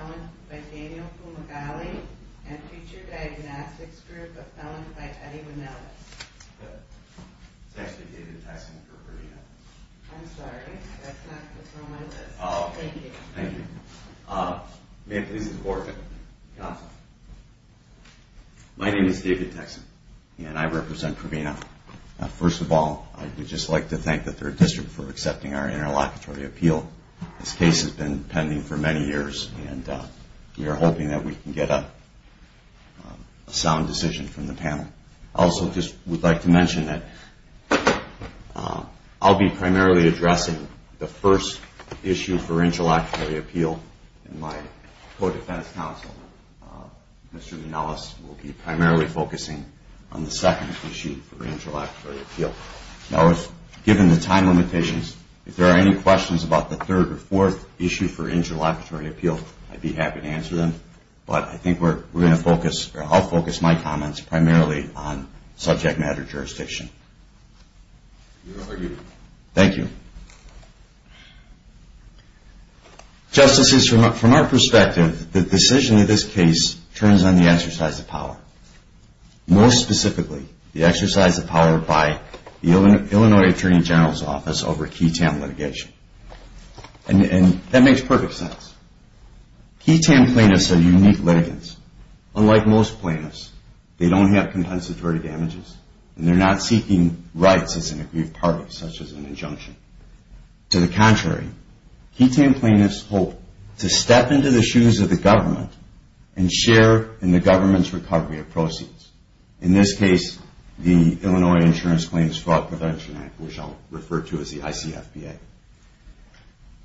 Appellant by Daniel Fumagalli and Future Diagnostics Group Appellant by Eddie Manelis. It's actually David Texson for Provena. I'm sorry, that's not what's on my list. Thank you. Thank you. May I please have the floor, sir? My name is David Texson and I represent Provena. First of all, I would just like to thank the 3rd District for accepting our interlocutory appeal. This case has been pending for many years and we are hoping that we can get a sound decision from the panel. I also just would like to mention that I'll be primarily addressing the first issue for interlocutory appeal in my co-defense counsel. Mr. Manelis will be primarily focusing on the second issue for interlocutory appeal. Now, given the time limitations, if there are any questions about the third or fourth issue for interlocutory appeal, I'd be happy to answer them. But I think I'll focus my comments primarily on subject matter jurisdiction. Thank you. Justices, from our perspective, the decision of this case turns on the exercise of power. More specifically, the exercise of power by the Illinois Attorney General's Office over Key Tam litigation. And that makes perfect sense. Key Tam plaintiffs are unique litigants. Unlike most plaintiffs, they don't have compensatory damages and they're not seeking rights as an aggrieved party, such as an injunction. To the contrary, Key Tam plaintiffs hope to step into the shoes of the government and share in the government's recovery of proceeds. In this case, the Illinois Insurance Claims Fraud Prevention Act, which I'll refer to as the ICFPA.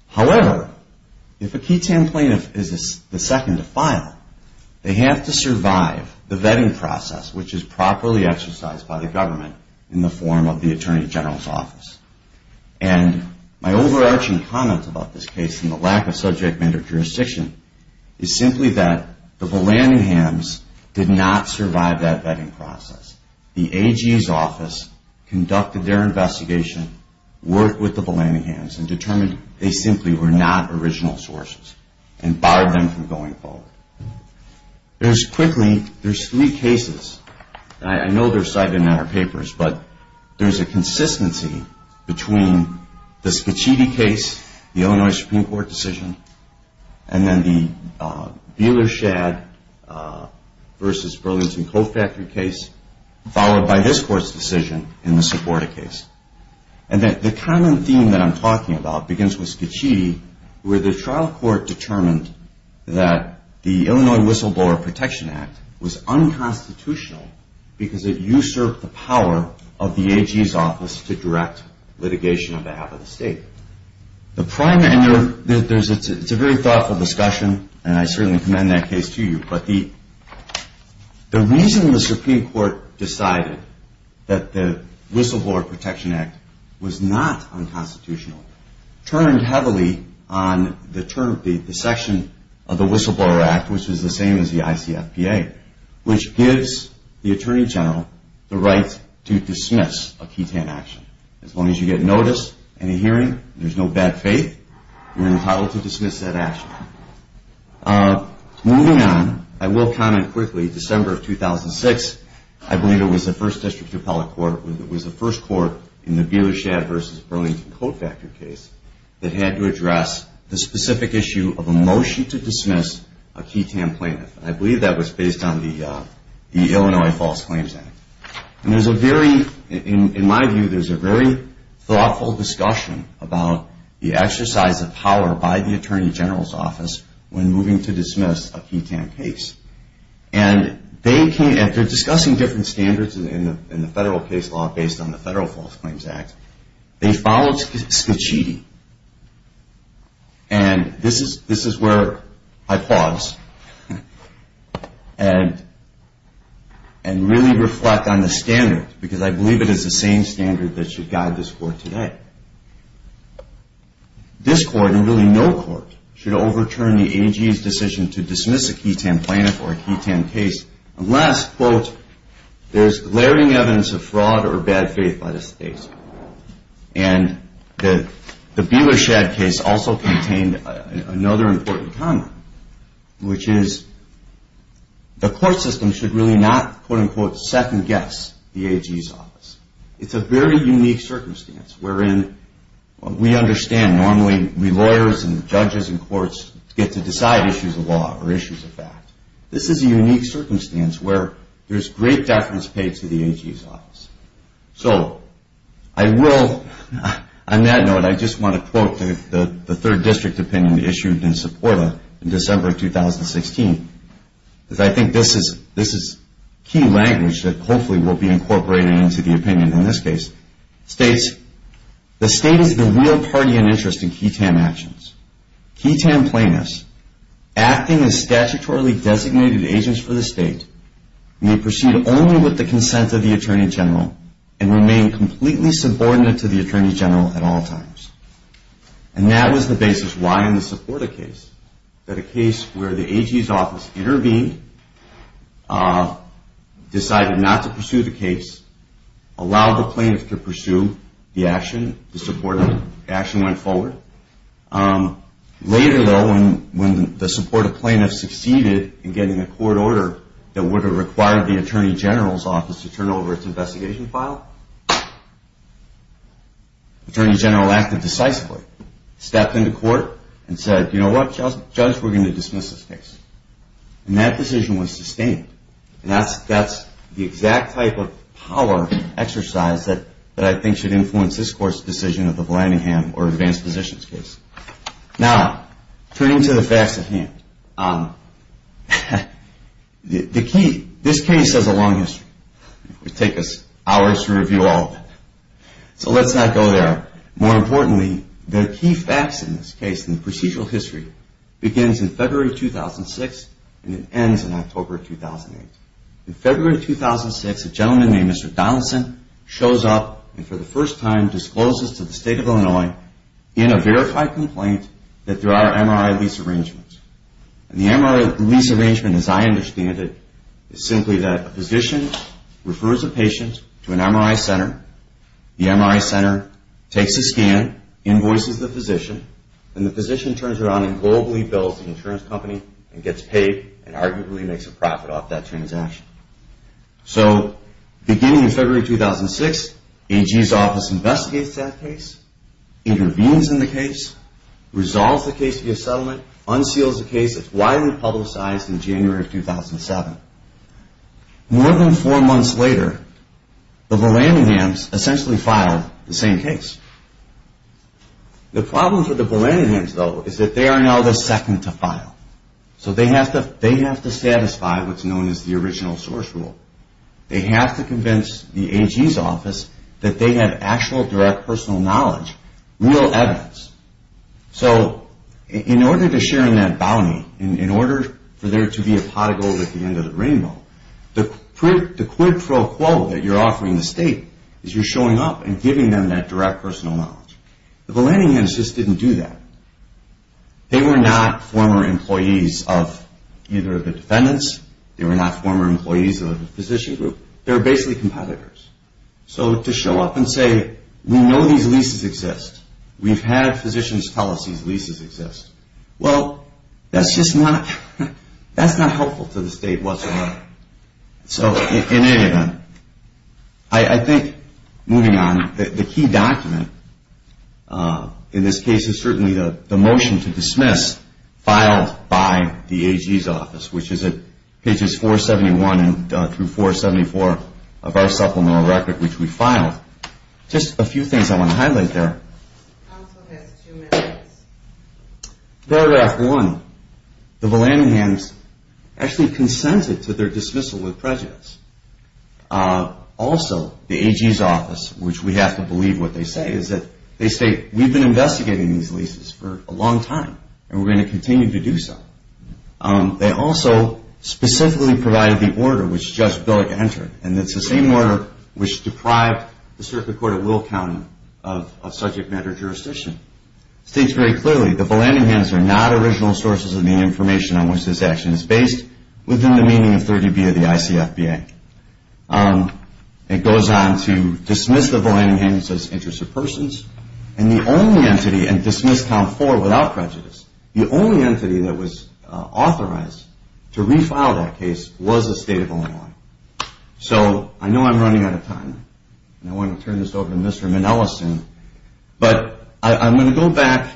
However, if a Key Tam plaintiff is the second to file, they have to survive the vetting process, which is properly exercised by the government in the form of the Attorney General's Office. And my overarching comment about this case and the lack of subject matter jurisdiction is simply that the Blandinghams did not survive that vetting process. The AG's office conducted their investigation, worked with the Blandinghams and determined they simply were not original sources and barred them from going forward. There's quickly, there's three cases. I know they're cited in our papers, but there's a consistency between the Scaccitti case, the Illinois Supreme Court decision, and then the Buehler-Shadd v. Burlington Coal Factory case, followed by this Court's decision in the Seporda case. And the common theme that I'm talking about begins with Scaccitti, where the trial court determined that the Illinois Whistleblower Protection Act was unconstitutional because it usurped the power of the AG's office to direct litigation on behalf of the state. It's a very thoughtful discussion, and I certainly commend that case to you. But the reason the Supreme Court decided that the Whistleblower Protection Act was not unconstitutional turned heavily on the term, the section of the Whistleblower Act, which was the same as the ICFPA, which gives the Attorney General the right to dismiss a ketan action. As long as you get noticed in a hearing, there's no bad faith, you're entitled to dismiss that action. Moving on, I will comment quickly, December of 2006, I believe it was the first district appellate court, it was the first court in the Buehler-Shadd v. Burlington Coal Factory case that had to address the specific issue of a motion to dismiss a ketan plaintiff. And I believe that was based on the Illinois False Claims Act. In my view, there's a very thoughtful discussion about the exercise of power by the Attorney General's office when moving to dismiss a ketan case. And they're discussing different standards in the federal case law based on the Federal False Claims Act. They followed Scicchiti. And this is where I pause and really reflect on the standards, because I believe it is the same standards that should guide this court today. This court, and really no court, should overturn the AG's decision to dismiss a ketan plaintiff or a ketan case unless, quote, there's glaring evidence of fraud or bad faith by the state. And the Buehler-Shadd case also contained another important comment, which is the court system should really not, quote, unquote, second guess the AG's office. It's a very unique circumstance wherein we understand normally we lawyers and judges in courts get to decide issues of law or issues of fact. This is a unique circumstance where there's great deference paid to the AG's office. So I will, on that note, I just want to quote the third district opinion issued in SEPORTA in December of 2016, because I think this is key language that hopefully will be incorporated into the opinion in this case. It states, the state is the real party in interest in ketan actions. Ketan plaintiffs, acting as statutorily designated agents for the state, may proceed only with the consent of the attorney general and remain completely subordinate to the attorney general at all times. And that was the basis why in the SEPORTA case, that a case where the AG's office intervened, decided not to pursue the case, allowed the plaintiff to pursue the action, the SEPORTA action went forward. Later, though, when the SEPORTA plaintiff succeeded in getting a court order that would have required the attorney general's office to turn over its investigation file, the attorney general acted decisively, stepped into court and said, you know what, judge, we're going to dismiss this case. And that decision was sustained. And that's the exact type of power exercise that I think should influence this court's decision of the Vlandingham or advanced positions case. Now, turning to the facts at hand, the key, this case has a long history. It would take us hours to review all of it. So let's not go there. More importantly, the key facts in this case and the procedural history begins in February 2006 and it ends in October 2008. In February 2006, a gentleman named Mr. Donaldson shows up and for the first time discloses to the State of Illinois in a verified complaint that there are MRI lease arrangements. And the MRI lease arrangement, as I understand it, is simply that a physician refers a patient to an MRI center, the MRI center takes a scan, invoices the physician, and the physician turns around and globally bills the insurance company and gets paid and arguably makes a profit off that transaction. So beginning in February 2006, AG's office investigates that case, intervenes in the case, resolves the case via settlement, unseals the case, it's widely publicized in January of 2007. More than four months later, the Vallandighams essentially filed the same case. The problem for the Vallandighams, though, is that they are now the second to file. So they have to satisfy what's known as the original source rule. They have to convince the AG's office that they had actual direct personal knowledge, real evidence. So in order to share in that bounty, in order for there to be a pot of gold at the end of the rainbow, the quid pro quo that you're offering the State is you're showing up and giving them that direct personal knowledge. The Vallandighams just didn't do that. They were not former employees of either the defendants, they were not former employees of the physician group. They were basically competitors. So to show up and say, we know these leases exist, we've had physicians tell us these leases exist, well, that's just not helpful to the State whatsoever. So in any event, I think moving on, the key document in this case is certainly the motion to dismiss filed by the AG's office, which is at pages 471 through 474 of our supplemental record, which we filed. Just a few things I want to highlight there. Paragraph one, the Vallandighams actually consented to their dismissal with prejudice. Also, the AG's office, which we have to believe what they say, is that they say we've been investigating these leases for a long time and we're going to continue to do so. They also specifically provided the order which Judge Billick entered, and it's the same order which deprived the Circuit Court of Will County of subject matter jurisdiction. It states very clearly, the Vallandighams are not original sources of the information on which this action is based, within the meaning of 30B of the ICFBA. It goes on to dismiss the Vallandighams as interests of persons, and the only entity, and dismiss count four without prejudice, the only entity that was authorized to refile that case was the State of Illinois. So, I know I'm running out of time, and I want to turn this over to Mr. Manelis soon, but I'm going to go back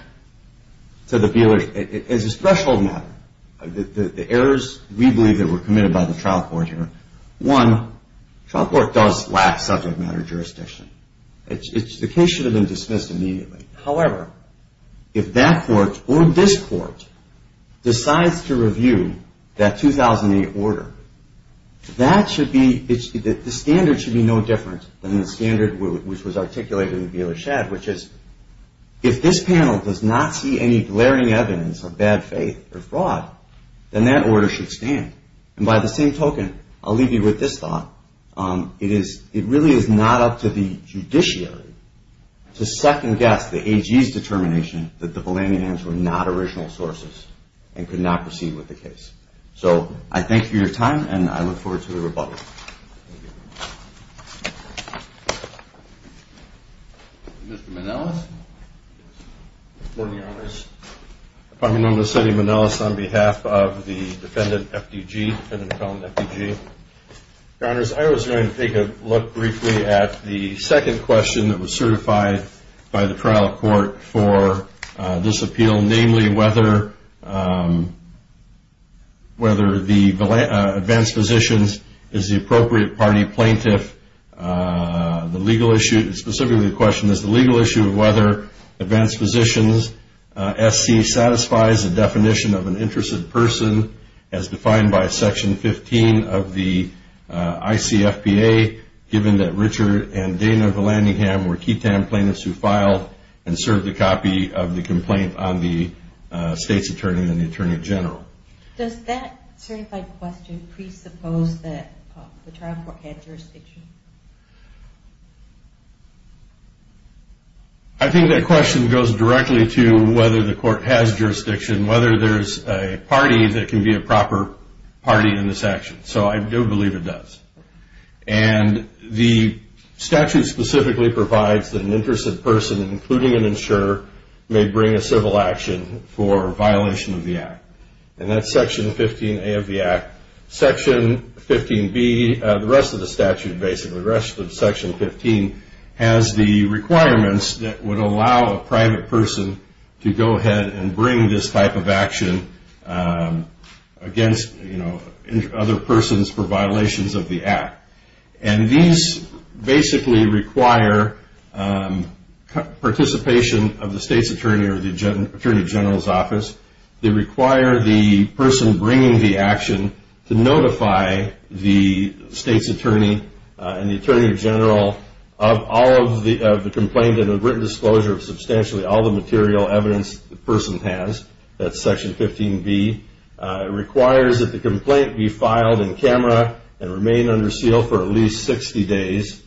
to the, as a threshold matter, the errors we believe that were committed by the trial court here. One, trial court does lack subject matter jurisdiction. The case should have been dismissed immediately. However, if that court or this court decides to review that 2008 order, that should be, the standard should be no different than the standard which was articulated in the Bieler Shad, which is, if this panel does not see any glaring evidence of bad faith or fraud, then that order should stand. And by the same token, I'll leave you with this thought. It really is not up to the judiciary to second-guess the AG's determination that the Vallandighams were not original sources and could not proceed with the case. So, I thank you for your time, and I look forward to the rebuttal. Mr. Manelis? Good morning, Your Honors. If I may know, I'm Mr. Eddie Manelis on behalf of the defendant, FDG, defendant-accused FDG. Your Honors, I was going to take a look briefly at the second question that was certified by the trial court for this appeal, namely whether the advanced physicians is the appropriate party plaintiff. The legal issue, specifically the question, is the legal issue of whether advanced physicians, SC, satisfies the definition of an interested person as defined by Section 15 of the ICFPA, given that Richard and Dana Vallandigham were QITAM plaintiffs who filed and served a copy of the complaint on the state's attorney and the attorney general. Does that certified question presuppose that the trial court has jurisdiction? I think that question goes directly to whether the court has jurisdiction, whether there's a party that can be a proper party in this action. So, I do believe it does. And the statute specifically provides that an interested person, including an insurer, may bring a civil action for violation of the Act. And that's Section 15A of the Act. Section 15B, the rest of the statute basically, the rest of Section 15, has the requirements that would allow a private person to go ahead and bring this type of action against other persons for violations of the Act. And these basically require participation of the state's attorney or the attorney general's office. They require the person bringing the action to notify the state's attorney and the attorney general of all of the complaint and a written disclosure of substantially all the material evidence the person has. That's Section 15B. It requires that the complaint be filed in camera and remain under seal for at least 60 days.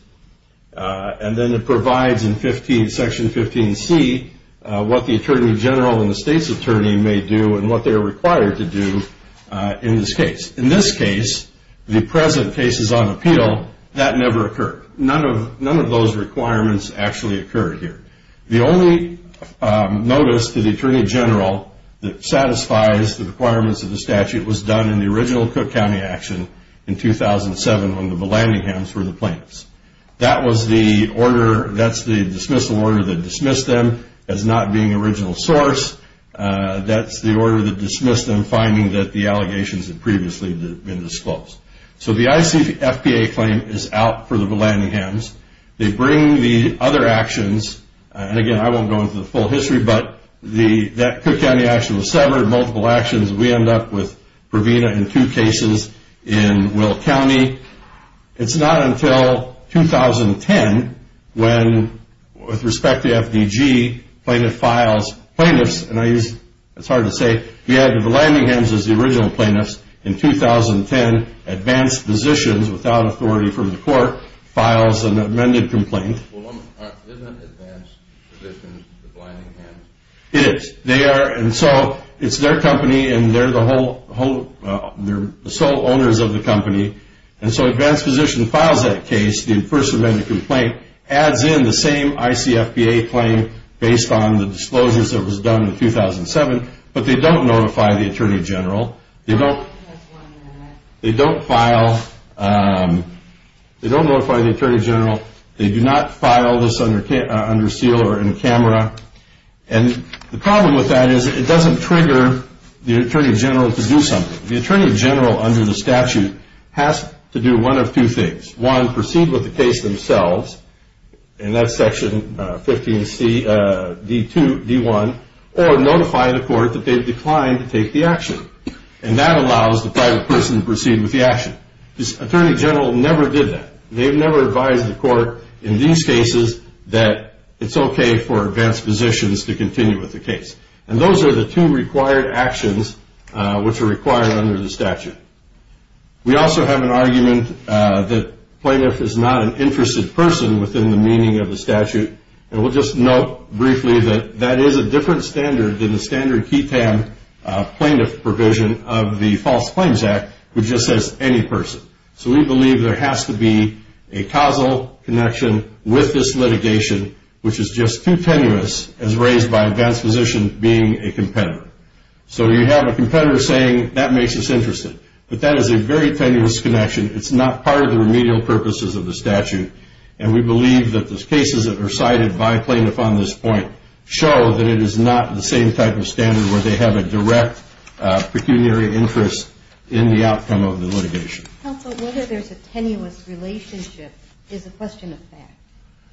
And then it provides in Section 15C what the attorney general and the state's attorney may do and what they are required to do in this case. In this case, the present case is on appeal. That never occurred. None of those requirements actually occurred here. The only notice to the attorney general that satisfies the requirements of the statute was done in the original Cook County action in 2007 when the Belandinghams were the plaintiffs. That's the dismissal order that dismissed them as not being original source. That's the order that dismissed them finding that the allegations had previously been disclosed. So the ICFPA claim is out for the Belandinghams. They bring the other actions. And again, I won't go into the full history, but that Cook County action was severed. Multiple actions. We end up with Provena in two cases in Will County. It's not until 2010 when, with respect to FDG, plaintiff files plaintiffs. And I use, it's hard to say. We added the Belandinghams as the original plaintiffs in 2010. Advanced Physicians, without authority from the court, files an amended complaint. Isn't Advanced Physicians the Belandinghams? It is. They are. And so it's their company and they're the sole owners of the company. And so Advanced Physicians files that case, the first amended complaint, adds in the same ICFPA claim based on the disclosures that was done in 2007, but they don't notify the attorney general. They don't file, they don't notify the attorney general. They do not file this under seal or in camera. And the problem with that is it doesn't trigger the attorney general to do something. The attorney general, under the statute, has to do one of two things. One, proceed with the case themselves, and that's section 15C, D2, D1, or notify the court that they've declined to take the action. And that allows the private person to proceed with the action. The attorney general never did that. They've never advised the court in these cases that it's okay for Advanced Physicians to continue with the case. And those are the two required actions which are required under the statute. We also have an argument that plaintiff is not an interested person within the meaning of the statute, and we'll just note briefly that that is a different standard than the standard QTAM plaintiff provision of the False Claims Act, which just says any person. So we believe there has to be a causal connection with this litigation, which is just too tenuous as raised by Advanced Physicians being a competitor. So you have a competitor saying that makes us interested, but that is a very tenuous connection. It's not part of the remedial purposes of the statute, and we believe that the cases that are cited by plaintiff on this point show that it is not the same type of standard where they have a direct pecuniary interest in the outcome of the litigation. Counsel, whether there's a tenuous relationship is a question of fact.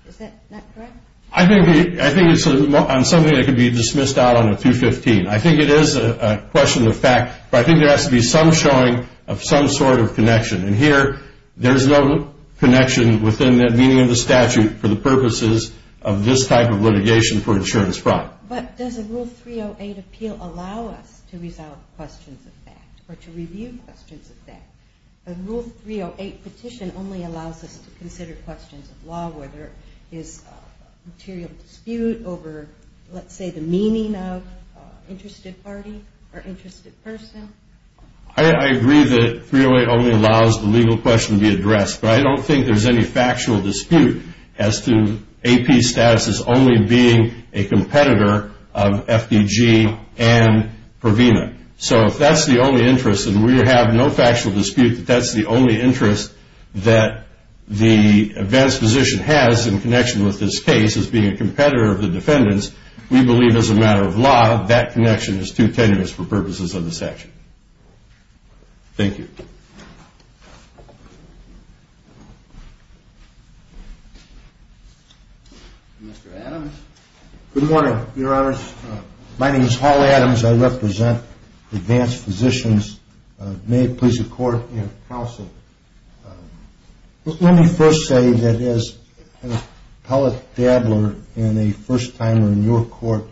Is that correct? I think it's something that could be dismissed out on a 215. I think it is a question of fact, but I think there has to be some showing of some sort of connection. And here, there's no connection within the meaning of the statute for the purposes of this type of litigation for insurance fraud. But does a Rule 308 appeal allow us to resolve questions of fact or to review questions of fact? A Rule 308 petition only allows us to consider questions of law, whether it's a material dispute over, let's say, the meaning of interested party or interested person. I agree that 308 only allows the legal question to be addressed, but I don't think there's any factual dispute as to AP status as only being a competitor of FDG and Provena. So if that's the only interest, and we have no factual dispute that that's the only interest that the advanced position has in connection with this case as being a competitor of the defendant's, we believe as a matter of law, that connection is too tenuous for purposes of this action. Thank you. Mr. Adams. Good morning, Your Honors. My name is Hall Adams. I represent Advanced Physicians. May it please the Court and counsel, Let me first say that as an appellate dabbler and a first-timer in your court,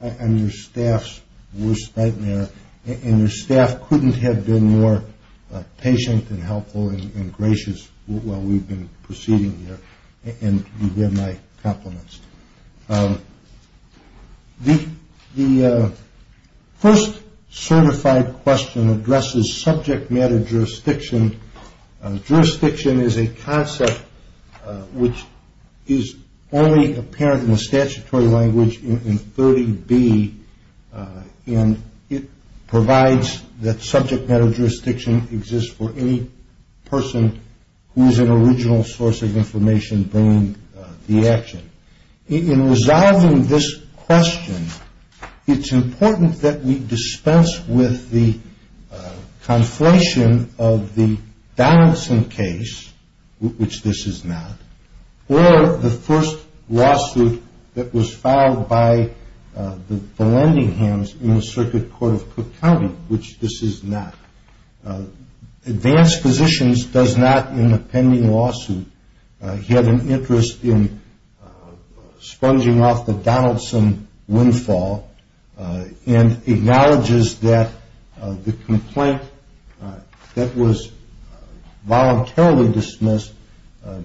I'm your staff's worst nightmare, and your staff couldn't have been more patient and helpful and gracious while we've been proceeding here, and you've been my compliments. The first certified question addresses subject matter jurisdiction. Jurisdiction is a concept which is only apparent in the statutory language in 30B, and it provides that subject matter jurisdiction exists for any person who is an original source of information bringing the action. In resolving this question, it's important that we dispense with the conflation of the balancing case, which this is not, or the first lawsuit that was filed by the lending hands in the Circuit Court of Cook County, which this is not. Advanced Physicians does not, in the pending lawsuit, have an interest in sponging off the Donaldson windfall and acknowledges that the complaint that was voluntarily dismissed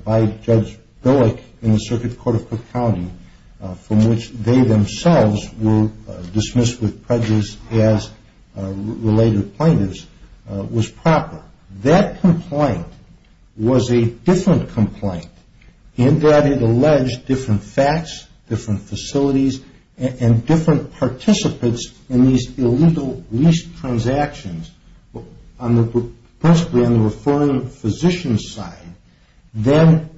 by Judge Billick in the Circuit Court of Cook County, from which they themselves were dismissed with prejudice as related plaintiffs, was proper. That complaint was a different complaint in that it alleged different facts, different facilities, and different participants in these illegal lease transactions, principally on the reforming physician's side, than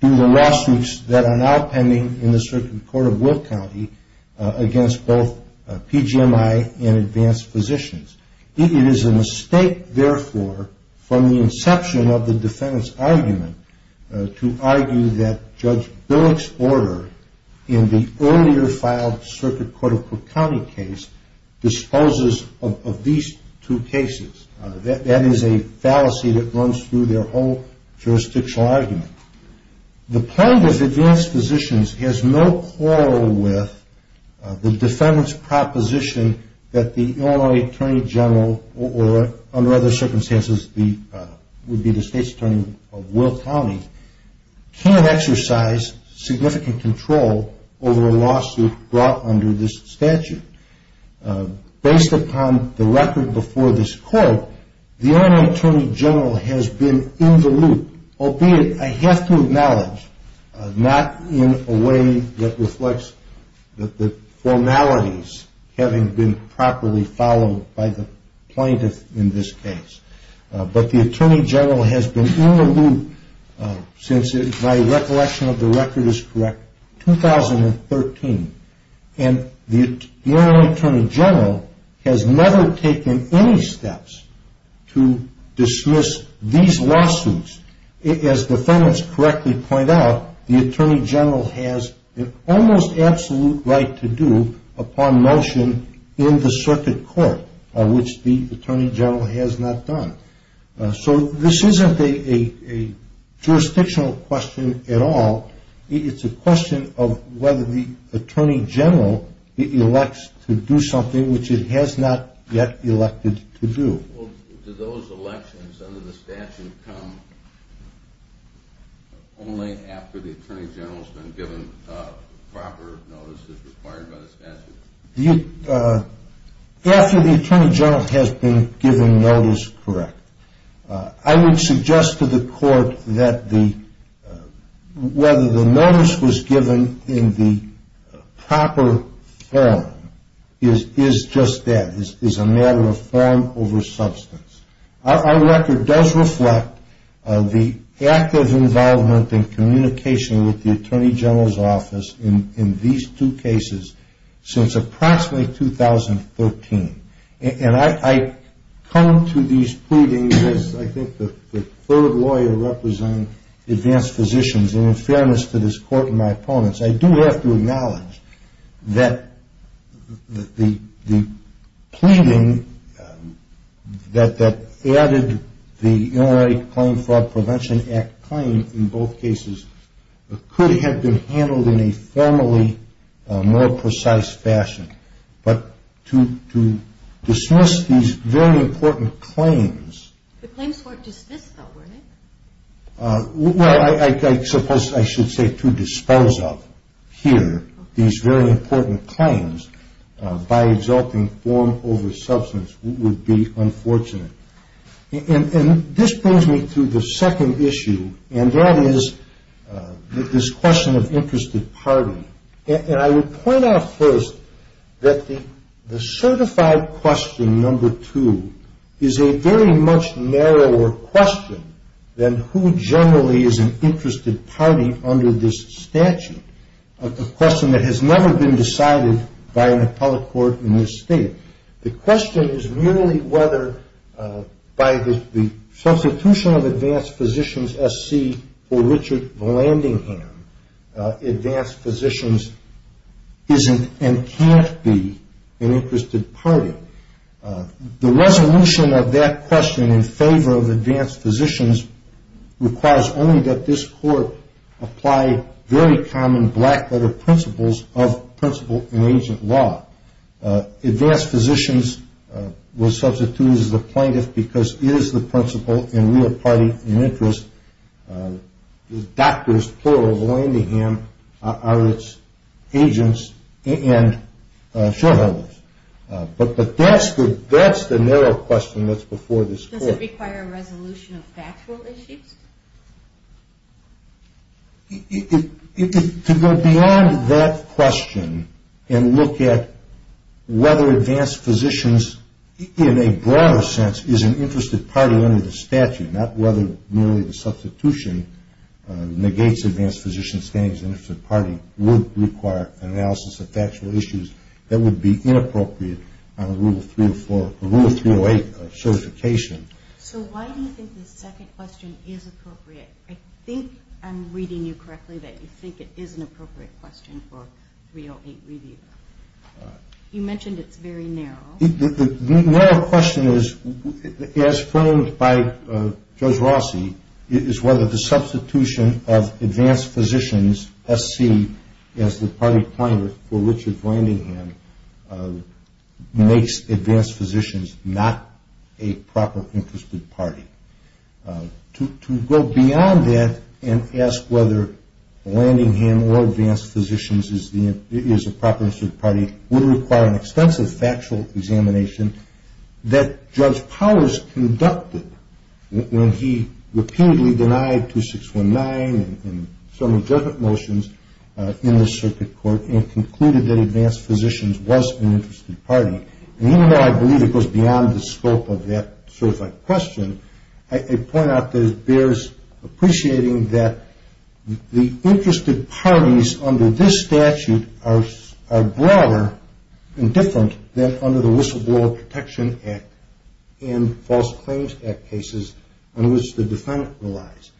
do the lawsuits that are now pending in the Circuit Court of Cook County against both PGMI and Advanced Physicians. It is a mistake, therefore, from the inception of the defendant's argument to argue that Judge Billick's order in the earlier filed Circuit Court of Cook County case disposes of these two cases. That is a fallacy that runs through their whole jurisdictional argument. The plaintiff, Advanced Physicians, has no quarrel with the defendant's proposition that the Illinois Attorney General, or under other circumstances would be the State's Attorney of Will County, can't exercise significant control over a lawsuit brought under this statute. Based upon the record before this court, the Illinois Attorney General has been in the loop, albeit, I have to acknowledge, not in a way that reflects the formalities having been properly followed by the plaintiff in this case, but the Attorney General has been in the loop since, if my recollection of the record is correct, 2013. And the Illinois Attorney General has never taken any steps to dismiss these lawsuits. As defendants correctly point out, the Attorney General has an almost absolute right to do upon motion in the Circuit Court, which the Attorney General has not done. So this isn't a jurisdictional question at all. It's a question of whether the Attorney General elects to do something which it has not yet elected to do. Well, do those elections under the statute come only after the Attorney General has been given proper notice as required by the statute? After the Attorney General has been given notice, correct. I would suggest to the court that whether the notice was given in the proper form is just that, is a matter of form over substance. Our record does reflect the active involvement in communication with the Attorney General's office in these two cases since approximately 2013. And I come to these pleadings as I think the third lawyer representing advanced physicians, and in fairness to this court and my opponents, I do have to acknowledge that the pleading that added the Illinois Claim Fraud Prevention Act claim in both cases could have been handled in a formally more precise fashion. But to dismiss these very important claims. The claims weren't dismissed, though, were they? Well, I suppose I should say to dispose of here these very important claims by exalting form over substance would be unfortunate. And this brings me to the second issue, and that is this question of interested party. And I would point out first that the certified question number two is a very much narrower question than who generally is an interested party under this statute, a question that has never been decided by an appellate court in this state. The question is really whether by the substitution of advanced physicians SC for Richard Vlandingham, advanced physicians isn't and can't be an interested party. The resolution of that question in favor of advanced physicians requires only that this court apply very common black-letter principles of principal and agent law. Advanced physicians were substituted as a plaintiff because it is the principal in real party and interest. Doctors, plural, Vlandingham are its agents and shareholders. But that's the narrow question that's before this court. Does it require a resolution of factual issues? To go beyond that question and look at whether advanced physicians in a broader sense is an interested party under the statute, not whether merely the substitution negates advanced physician's standing as an interested party, would require an analysis of factual issues that would be inappropriate under Rule 308 of certification. So why do you think the second question is appropriate? I think I'm reading you correctly that you think it is an appropriate question for 308 review. You mentioned it's very narrow. The narrow question is, as framed by Judge Rossi, is whether the substitution of advanced physicians SC as the party plaintiff for Richard Vlandingham makes advanced physicians not a proper interested party. To go beyond that and ask whether Vlandingham or advanced physicians is a proper interested party would require an extensive factual examination that Judge Powers conducted when he repeatedly denied 2619 and so many judgment motions in this circuit court and concluded that advanced physicians was an interested party. And even though I believe it goes beyond the scope of that question, I point out that it bears appreciating that the interested parties under this statute are broader and different than under the Whistleblower Protection Act and False Claims Act cases on which the defendant relies.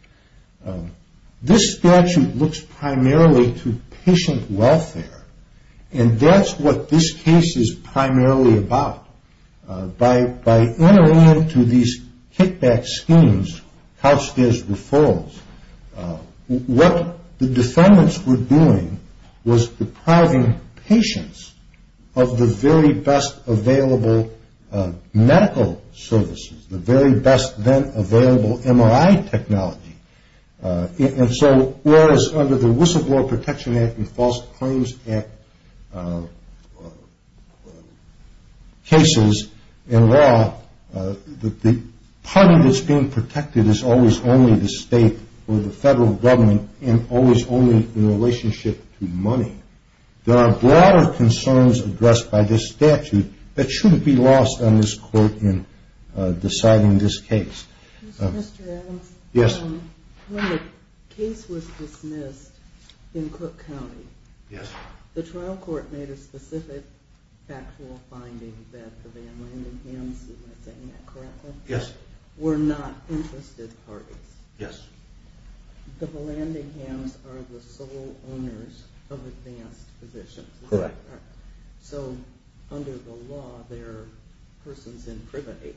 This statute looks primarily to patient welfare. And that's what this case is primarily about. By entering into these kickback schemes, couched as referrals, what the defendants were doing was depriving patients of the very best available medical services, the very best then available MRI technology. And so whereas under the Whistleblower Protection Act and False Claims Act cases in law, the party that's being protected is always only the state or the federal government There are broader concerns addressed by this statute that shouldn't be lost on this court in deciding this case. Mr. Adams? Yes. When the case was dismissed in Cook County, the trial court made a specific factual finding that the Vanlandinghams, am I saying that correctly, were not interested parties. Yes. The Vanlandinghams are the sole owners of advanced positions. Correct. So under the law, they're persons in privity.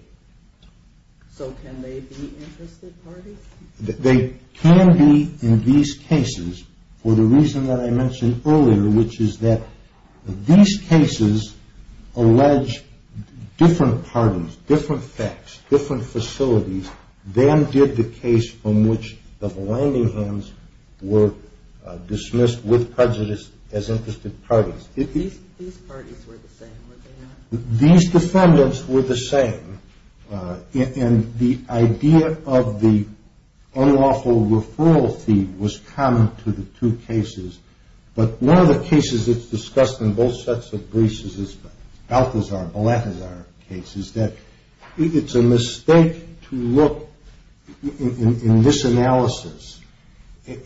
So can they be interested parties? They can be in these cases for the reason that I mentioned earlier, which is that these cases allege different parties, different effects, different facilities, then did the case from which the Vanlandinghams were dismissed with prejudice as interested parties. These parties were the same, were they not? These defendants were the same. And the idea of the unlawful referral fee was common to the two cases. But one of the cases that's discussed in both sets of briefs is Balthazar, Balatazar case, is that it's a mistake to look in this analysis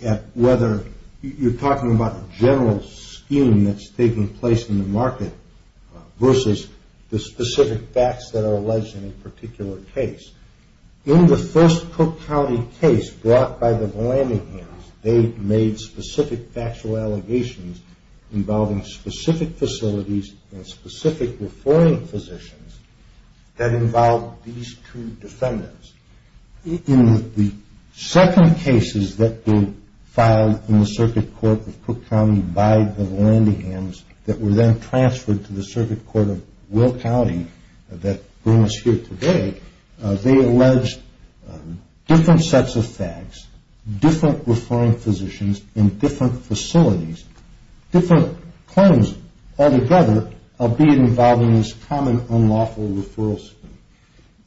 at whether you're talking about a general scheme that's taking place in the market versus the specific facts that are alleged in a particular case. In the first Cook County case brought by the Vanlandinghams, they made specific factual allegations involving specific facilities and specific referring positions that involved these two defendants. In the second cases that were filed in the circuit court of Cook County by the Vanlandinghams that were then transferred to the circuit court of Will County that bring us here today, they alleged different sets of facts, different referring positions in different facilities, different claims altogether of being involved in this common unlawful referral scheme.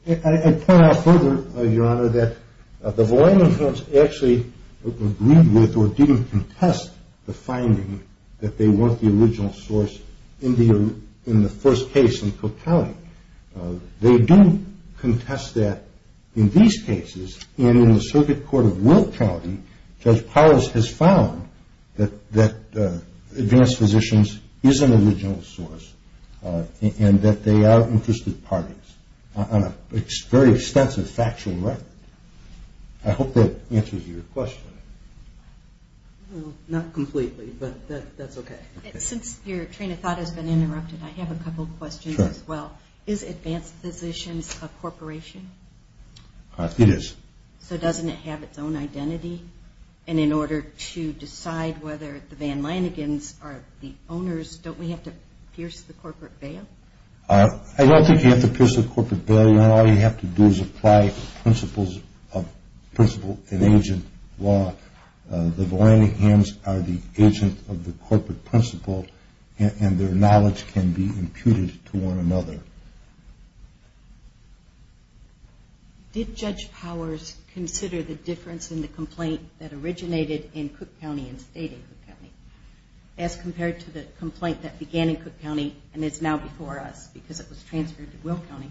I point out further, Your Honor, that the Vanlandinghams actually agreed with or didn't contest the finding that they weren't the original source in the first case in Cook County. They do contest that in these cases and in the circuit court of Will County, Judge Powers has found that advanced physicians is an original source and that they are interested parties on a very extensive factual record. I hope that answers your question. Not completely, but that's okay. Since your train of thought has been interrupted, I have a couple of questions as well. Is advanced physicians a corporation? It is. So doesn't it have its own identity? And in order to decide whether the Vanlandinghams are the owners, don't we have to pierce the corporate bail? I don't think you have to pierce the corporate bail. All you have to do is apply principles of principal and agent law. The Vanlandinghams are the agent of the corporate principal and their knowledge can be imputed to one another. Did Judge Powers consider the difference in the complaint that originated in Cook County and stayed in Cook County as compared to the complaint that began in Cook County and is now before us because it was transferred to Will County?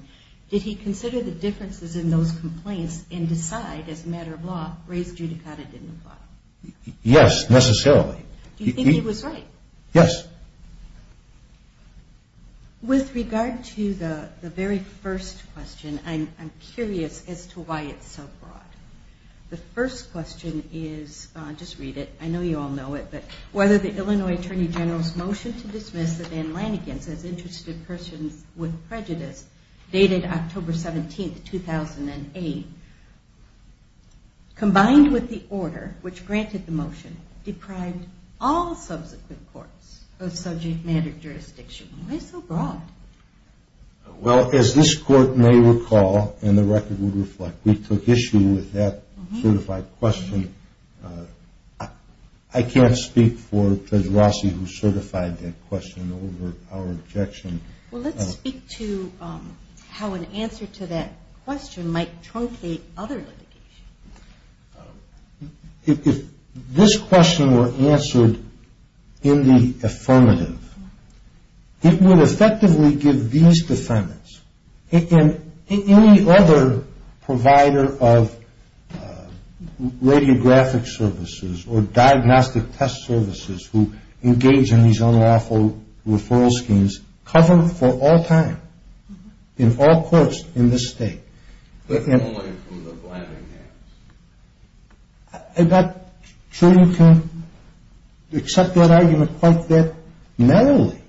Did he consider the differences in those complaints and decide, as a matter of law, raise judicata didn't apply? Yes, necessarily. Do you think he was right? Yes. With regard to the very first question, I'm curious as to why it's so broad. The first question is, just read it, I know you all know it, but whether the Illinois Attorney General's motion to dismiss the Vanlandinghams as interested persons with prejudice dated October 17, 2008, combined with the order which granted the motion deprived all subsequent courts of subject matter jurisdiction. Why so broad? Well, as this court may recall, and the record would reflect, we took issue with that certified question. I can't speak for Judge Rossi who certified that question over our objection. Well, let's speak to how an answer to that question might truncate other litigation. If this question were answered in the affirmative, it would effectively give these defendants and any other provider of radiographic services or diagnostic test services who engage in these unlawful referral schemes cover for all time in all courts in this state. With Illinois from the Vanlandinghams. I'm not sure you can accept that argument quite that narrowly.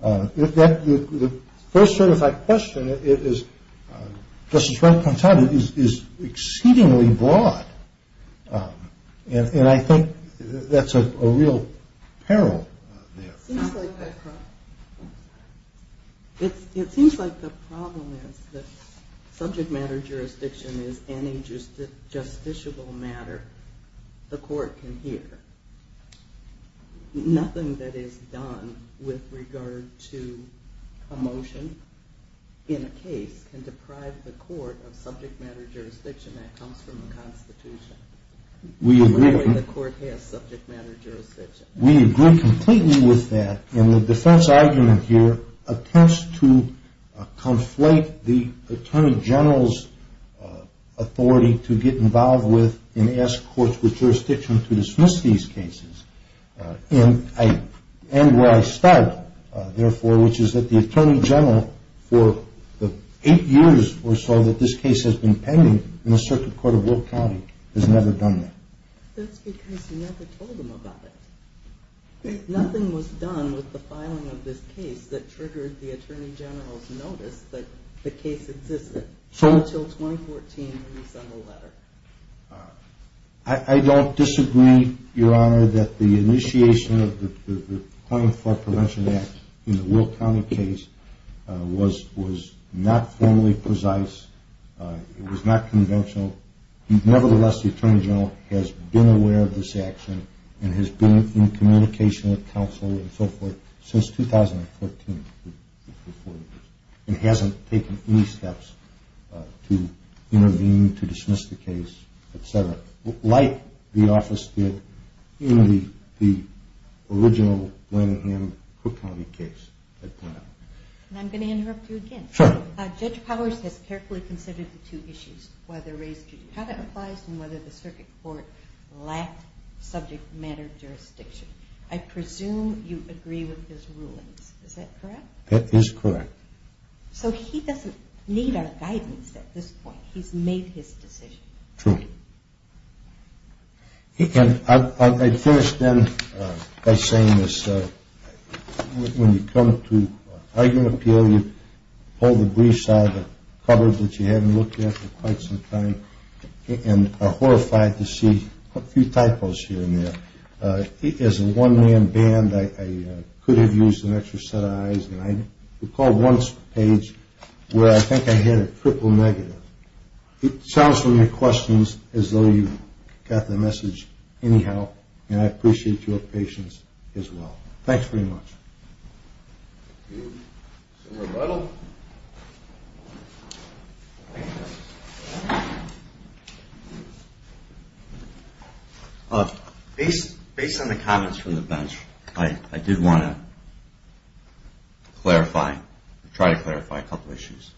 The first certified question, as Justice Wright pointed out, is exceedingly broad. And I think that's a real peril there. It seems like the problem is that subject matter jurisdiction is any justiciable matter the court can hear. Nothing that is done with regard to a motion in a case can deprive the court of subject matter jurisdiction that comes from the Constitution. We agree. The way the court has subject matter jurisdiction. We agree completely with that. And the defense argument here attempts to conflate the Attorney General's authority to get involved with and ask courts with jurisdiction to dismiss these cases. And where I start, therefore, which is that the Attorney General, for the eight years or so that this case has been pending in the Circuit Court of York County, has never done that. That's because you never told them about it. Nothing was done with the filing of this case that triggered the Attorney General's notice that the case existed until 2014 when you sent the letter. I don't disagree, Your Honor, that the initiation of the Claim for Prevention Act in the Will County case was not formally precise. It was not conventional. Nevertheless, the Attorney General has been aware of this action and has been in communication with counsel and so forth since 2014. And hasn't taken any steps to intervene, to dismiss the case, et cetera, like the office did in the original Blanningham Cook County case. And I'm going to interrupt you again. Sure. Judge Powers has carefully considered the two issues, whether raised judicata applies and whether the Circuit Court lacked subject matter jurisdiction. I presume you agree with his rulings. Is that correct? That is correct. So he doesn't need our guidance at this point. He's made his decision. True. And I'd finish then by saying this. When you come to argument appeal, you pull the briefs out of the cupboard that you haven't looked at for quite some time and are horrified to see a few typos here and there. As a one-man band, I could have used an extra set of eyes, and I recall one page where I think I had a triple negative. It sounds from your questions as though you got the message anyhow, and I appreciate your patience as well. Thanks very much. Any more rebuttal? Based on the comments from the bench, I did want to clarify, try to clarify a couple of issues.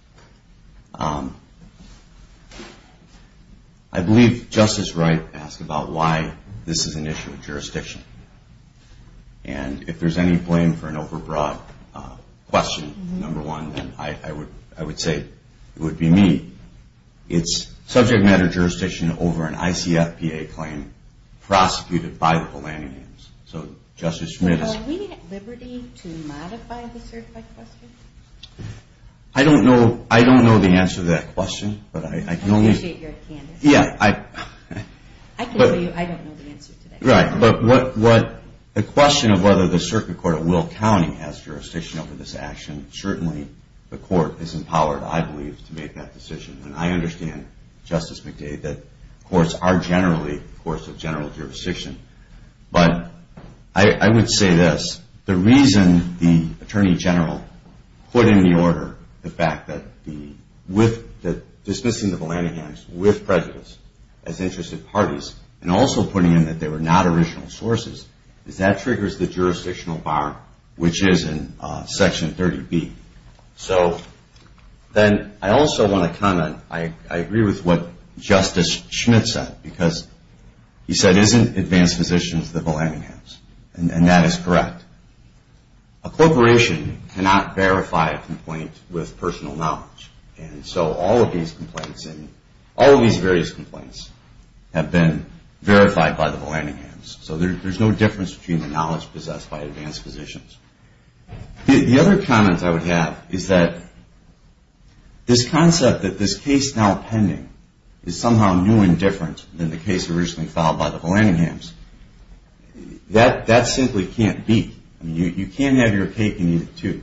I believe Justice Wright asked about why this is an issue of jurisdiction, and if there's any blame for an over-broad question, number one, then I would say it would be me. It's subject matter jurisdiction over an ICFPA claim prosecuted by the Holanians. So Justice Schmitt is... Are we at liberty to modify the certified question? I don't know the answer to that question, but I can only... I appreciate you're a candidate. Right, but the question of whether the circuit court at Will County has jurisdiction over this action, certainly the court is empowered, I believe, to make that decision, and I understand, Justice McDade, that courts are generally courts of general jurisdiction. But I would say this. The reason the Attorney General put in the order the fact that dismissing the Volanigans with prejudice as interested parties and also putting in that they were not original sources is that triggers the jurisdictional bar, which is in Section 30B. So then I also want to comment, I agree with what Justice Schmitt said, because he said, isn't advanced physicians the Volanigans? And that is correct. A corporation cannot verify a complaint with personal knowledge. And so all of these complaints and all of these various complaints have been verified by the Volanigans. So there's no difference between the knowledge possessed by advanced physicians. The other comment I would have is that this concept that this case now pending is somehow new and different than the case originally filed by the Volanigans, that simply can't be. You can't have your cake and eat it, too.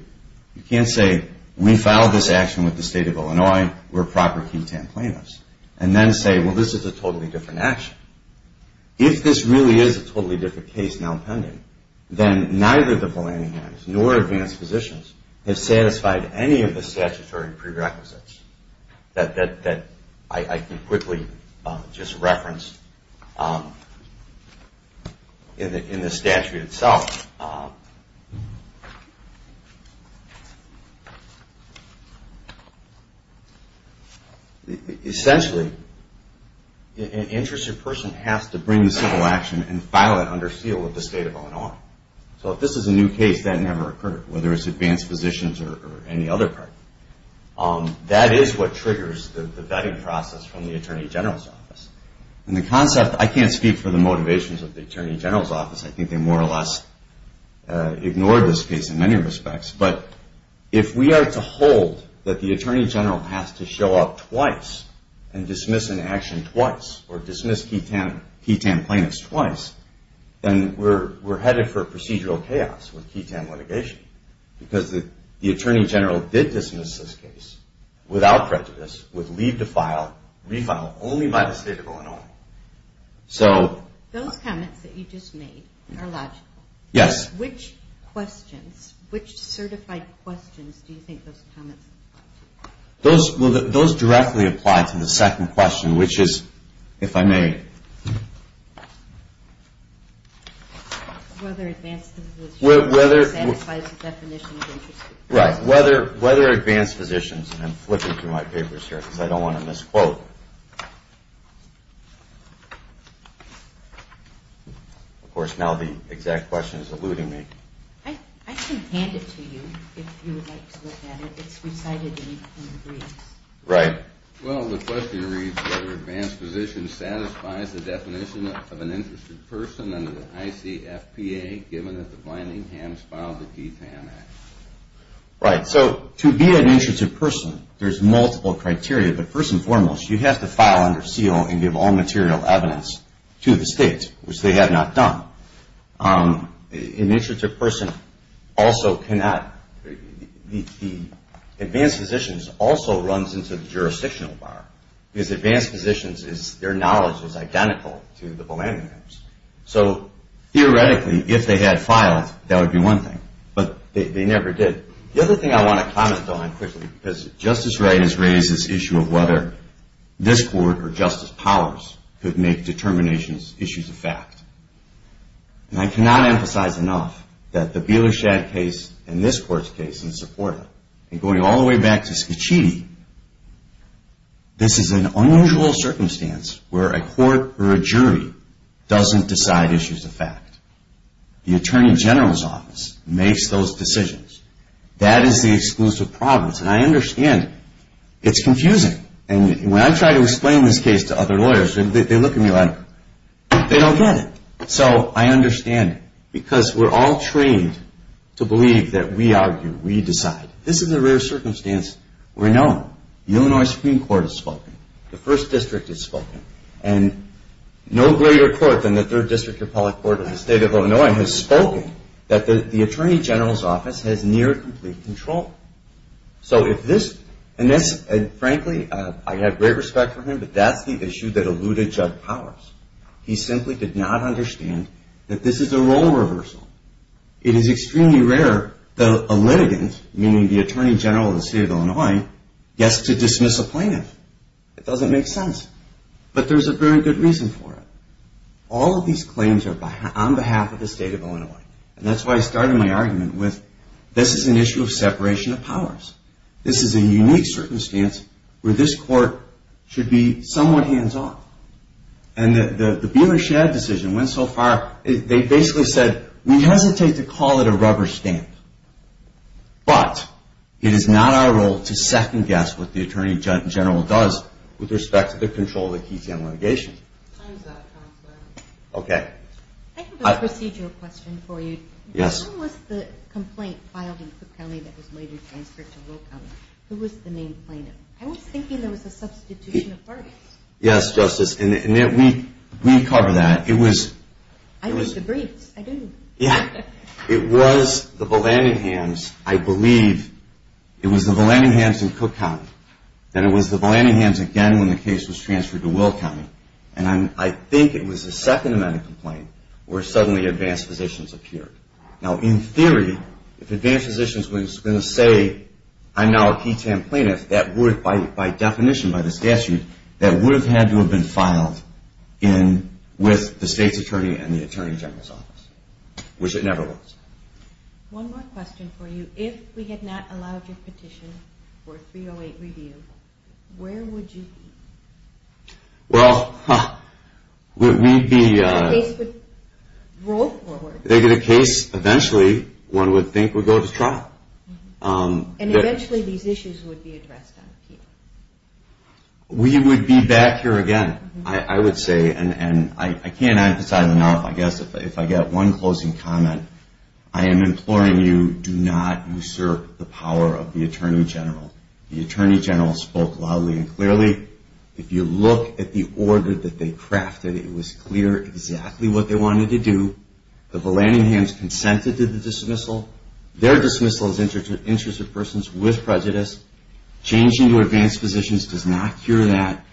You can't say, we filed this action with the State of Illinois. We're a proper key tamplainist, and then say, well, this is a totally different action. If this really is a totally different case now pending, then neither the Volanigans nor advanced physicians have satisfied any of the statutory prerequisites that I can quickly just reference in the statute itself. Essentially, an interested person has to bring the civil action and file it under seal with the State of Illinois. So if this is a new case, that never occurred, whether it's advanced physicians or any other party. That is what triggers the vetting process from the Attorney General's office. And the concept, I can't speak for the motivations of the Attorney General's office. I think they more or less ignored this case in many respects. But if we are to hold that the Attorney General has to show up twice and dismiss an action twice or dismiss key tamplainants twice, then we're headed for procedural chaos with key tam litigation. Because the Attorney General did dismiss this case without prejudice, with leave to file, refile only by the State of Illinois. So... Those comments that you just made are logical. Yes. Which questions, which certified questions do you think those comments apply to? Those directly apply to the second question, which is, if I may... Whether advanced physicians... Whether... Satisfies the definition of interested persons. Right. Whether advanced physicians... I'm flipping through my papers here because I don't want to misquote. Of course, now the exact question is eluding me. I can hand it to you if you would like to look at it. It's recited in briefs. Right. Well, the question reads, whether advanced physicians satisfies the definition of an interested person under the ICFPA, given that the Blandinghams filed the Key Tam Act. Right. So, to be an interested person, there's multiple criteria. But first and foremost, you have to file under seal and give all material evidence to the State, which they have not done. An interested person also cannot... The advanced physicians also runs into the jurisdictional bar, because advanced physicians, their knowledge is identical to the Blandinghams. So, theoretically, if they had filed, that would be one thing. But they never did. The other thing I want to comment on quickly, because Justice Wright has raised this issue of whether this court or Justice Powers could make determinations issues of fact. And I cannot emphasize enough that the Bieler-Schad case and this court's case in Seporda, and going all the way back to Scicchiti, this is an unusual circumstance where a court or a jury doesn't decide issues of fact. The Attorney General's Office makes those decisions. That is the exclusive province, and I understand it. It's confusing. And when I try to explain this case to other lawyers, they look at me like they don't get it. So, I understand it, because we're all trained to believe that we argue, we decide. This is a rare circumstance. We're known. The Illinois Supreme Court has spoken. The First District has spoken. And no greater court than the Third District Republic Court of the State of Illinois has spoken that the Attorney General's Office has near complete control. So, if this, and this, and frankly, I have great respect for him, but that's the issue that eluded Judge Powers. He simply did not understand that this is a role reversal. It is extremely rare that a litigant, meaning the Attorney General of the State of Illinois, gets to dismiss a plaintiff. It doesn't make sense. But there's a very good reason for it. All of these claims are on behalf of the State of Illinois. And that's why I started my argument with this is an issue of separation of powers. This is a unique circumstance where this court should be somewhat hands-off. And the Bieler-Shad decision went so far, they basically said, we hesitate to call it a rubber stamp. But, it is not our role to second-guess what the Attorney General does with respect to the control of the Keytown litigation. Time's up, Counselor. Okay. I have a procedural question for you. Yes. When was the complaint filed in Cook County that was later transferred to Will County? Who was the main plaintiff? I was thinking there was a substitution of parties. Yes, Justice. And we covered that. I did the briefs. I didn't. Yeah. It was the Vallandighams, I believe. It was the Vallandighams in Cook County. And it was the Vallandighams again when the case was transferred to Will County. And I think it was the second amendment complaint where suddenly advanced positions appeared. Now, in theory, if advanced positions were going to say, I'm now a Keytown plaintiff, that would, by definition, by the statute, that would have had to have been filed with the state's attorney and the Attorney General's office, which it never was. One more question for you. If we had not allowed your petition for 308 review, where would you be? Well, we'd be… The case would roll forward. They did a case, eventually, one would think would go to trial. And eventually these issues would be addressed on appeal. We would be back here again, I would say. And I can't emphasize enough, I guess, if I get one closing comment. I am imploring you, do not usurp the power of the Attorney General. The Attorney General spoke loudly and clearly. If you look at the order that they crafted, it was clear exactly what they wanted to do. The Vallandighams consented to the dismissal. Their dismissal is in the interest of persons with prejudice. Changing to advanced positions does not cure that.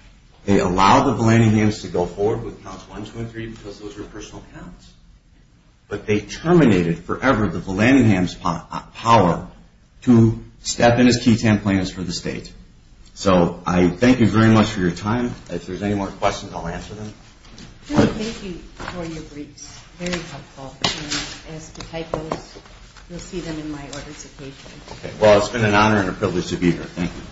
They allowed the Vallandighams to go forward with counts one, two, and three because those were personal counts. But they terminated forever the Vallandighams' power to step in as Keytown plaintiffs for the state. So I thank you very much for your time. If there's any more questions, I'll answer them. Thank you for your briefs. Very helpful. And as to typos, you'll see them in my orders occasionally. Well, it's been an honor and a privilege to be here. Thank you.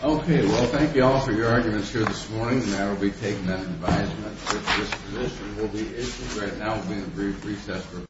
Okay. Well, thank you all for your arguments here this morning. And I will be taking that advisement that this position will be issued. Right now, we'll be in a brief recess.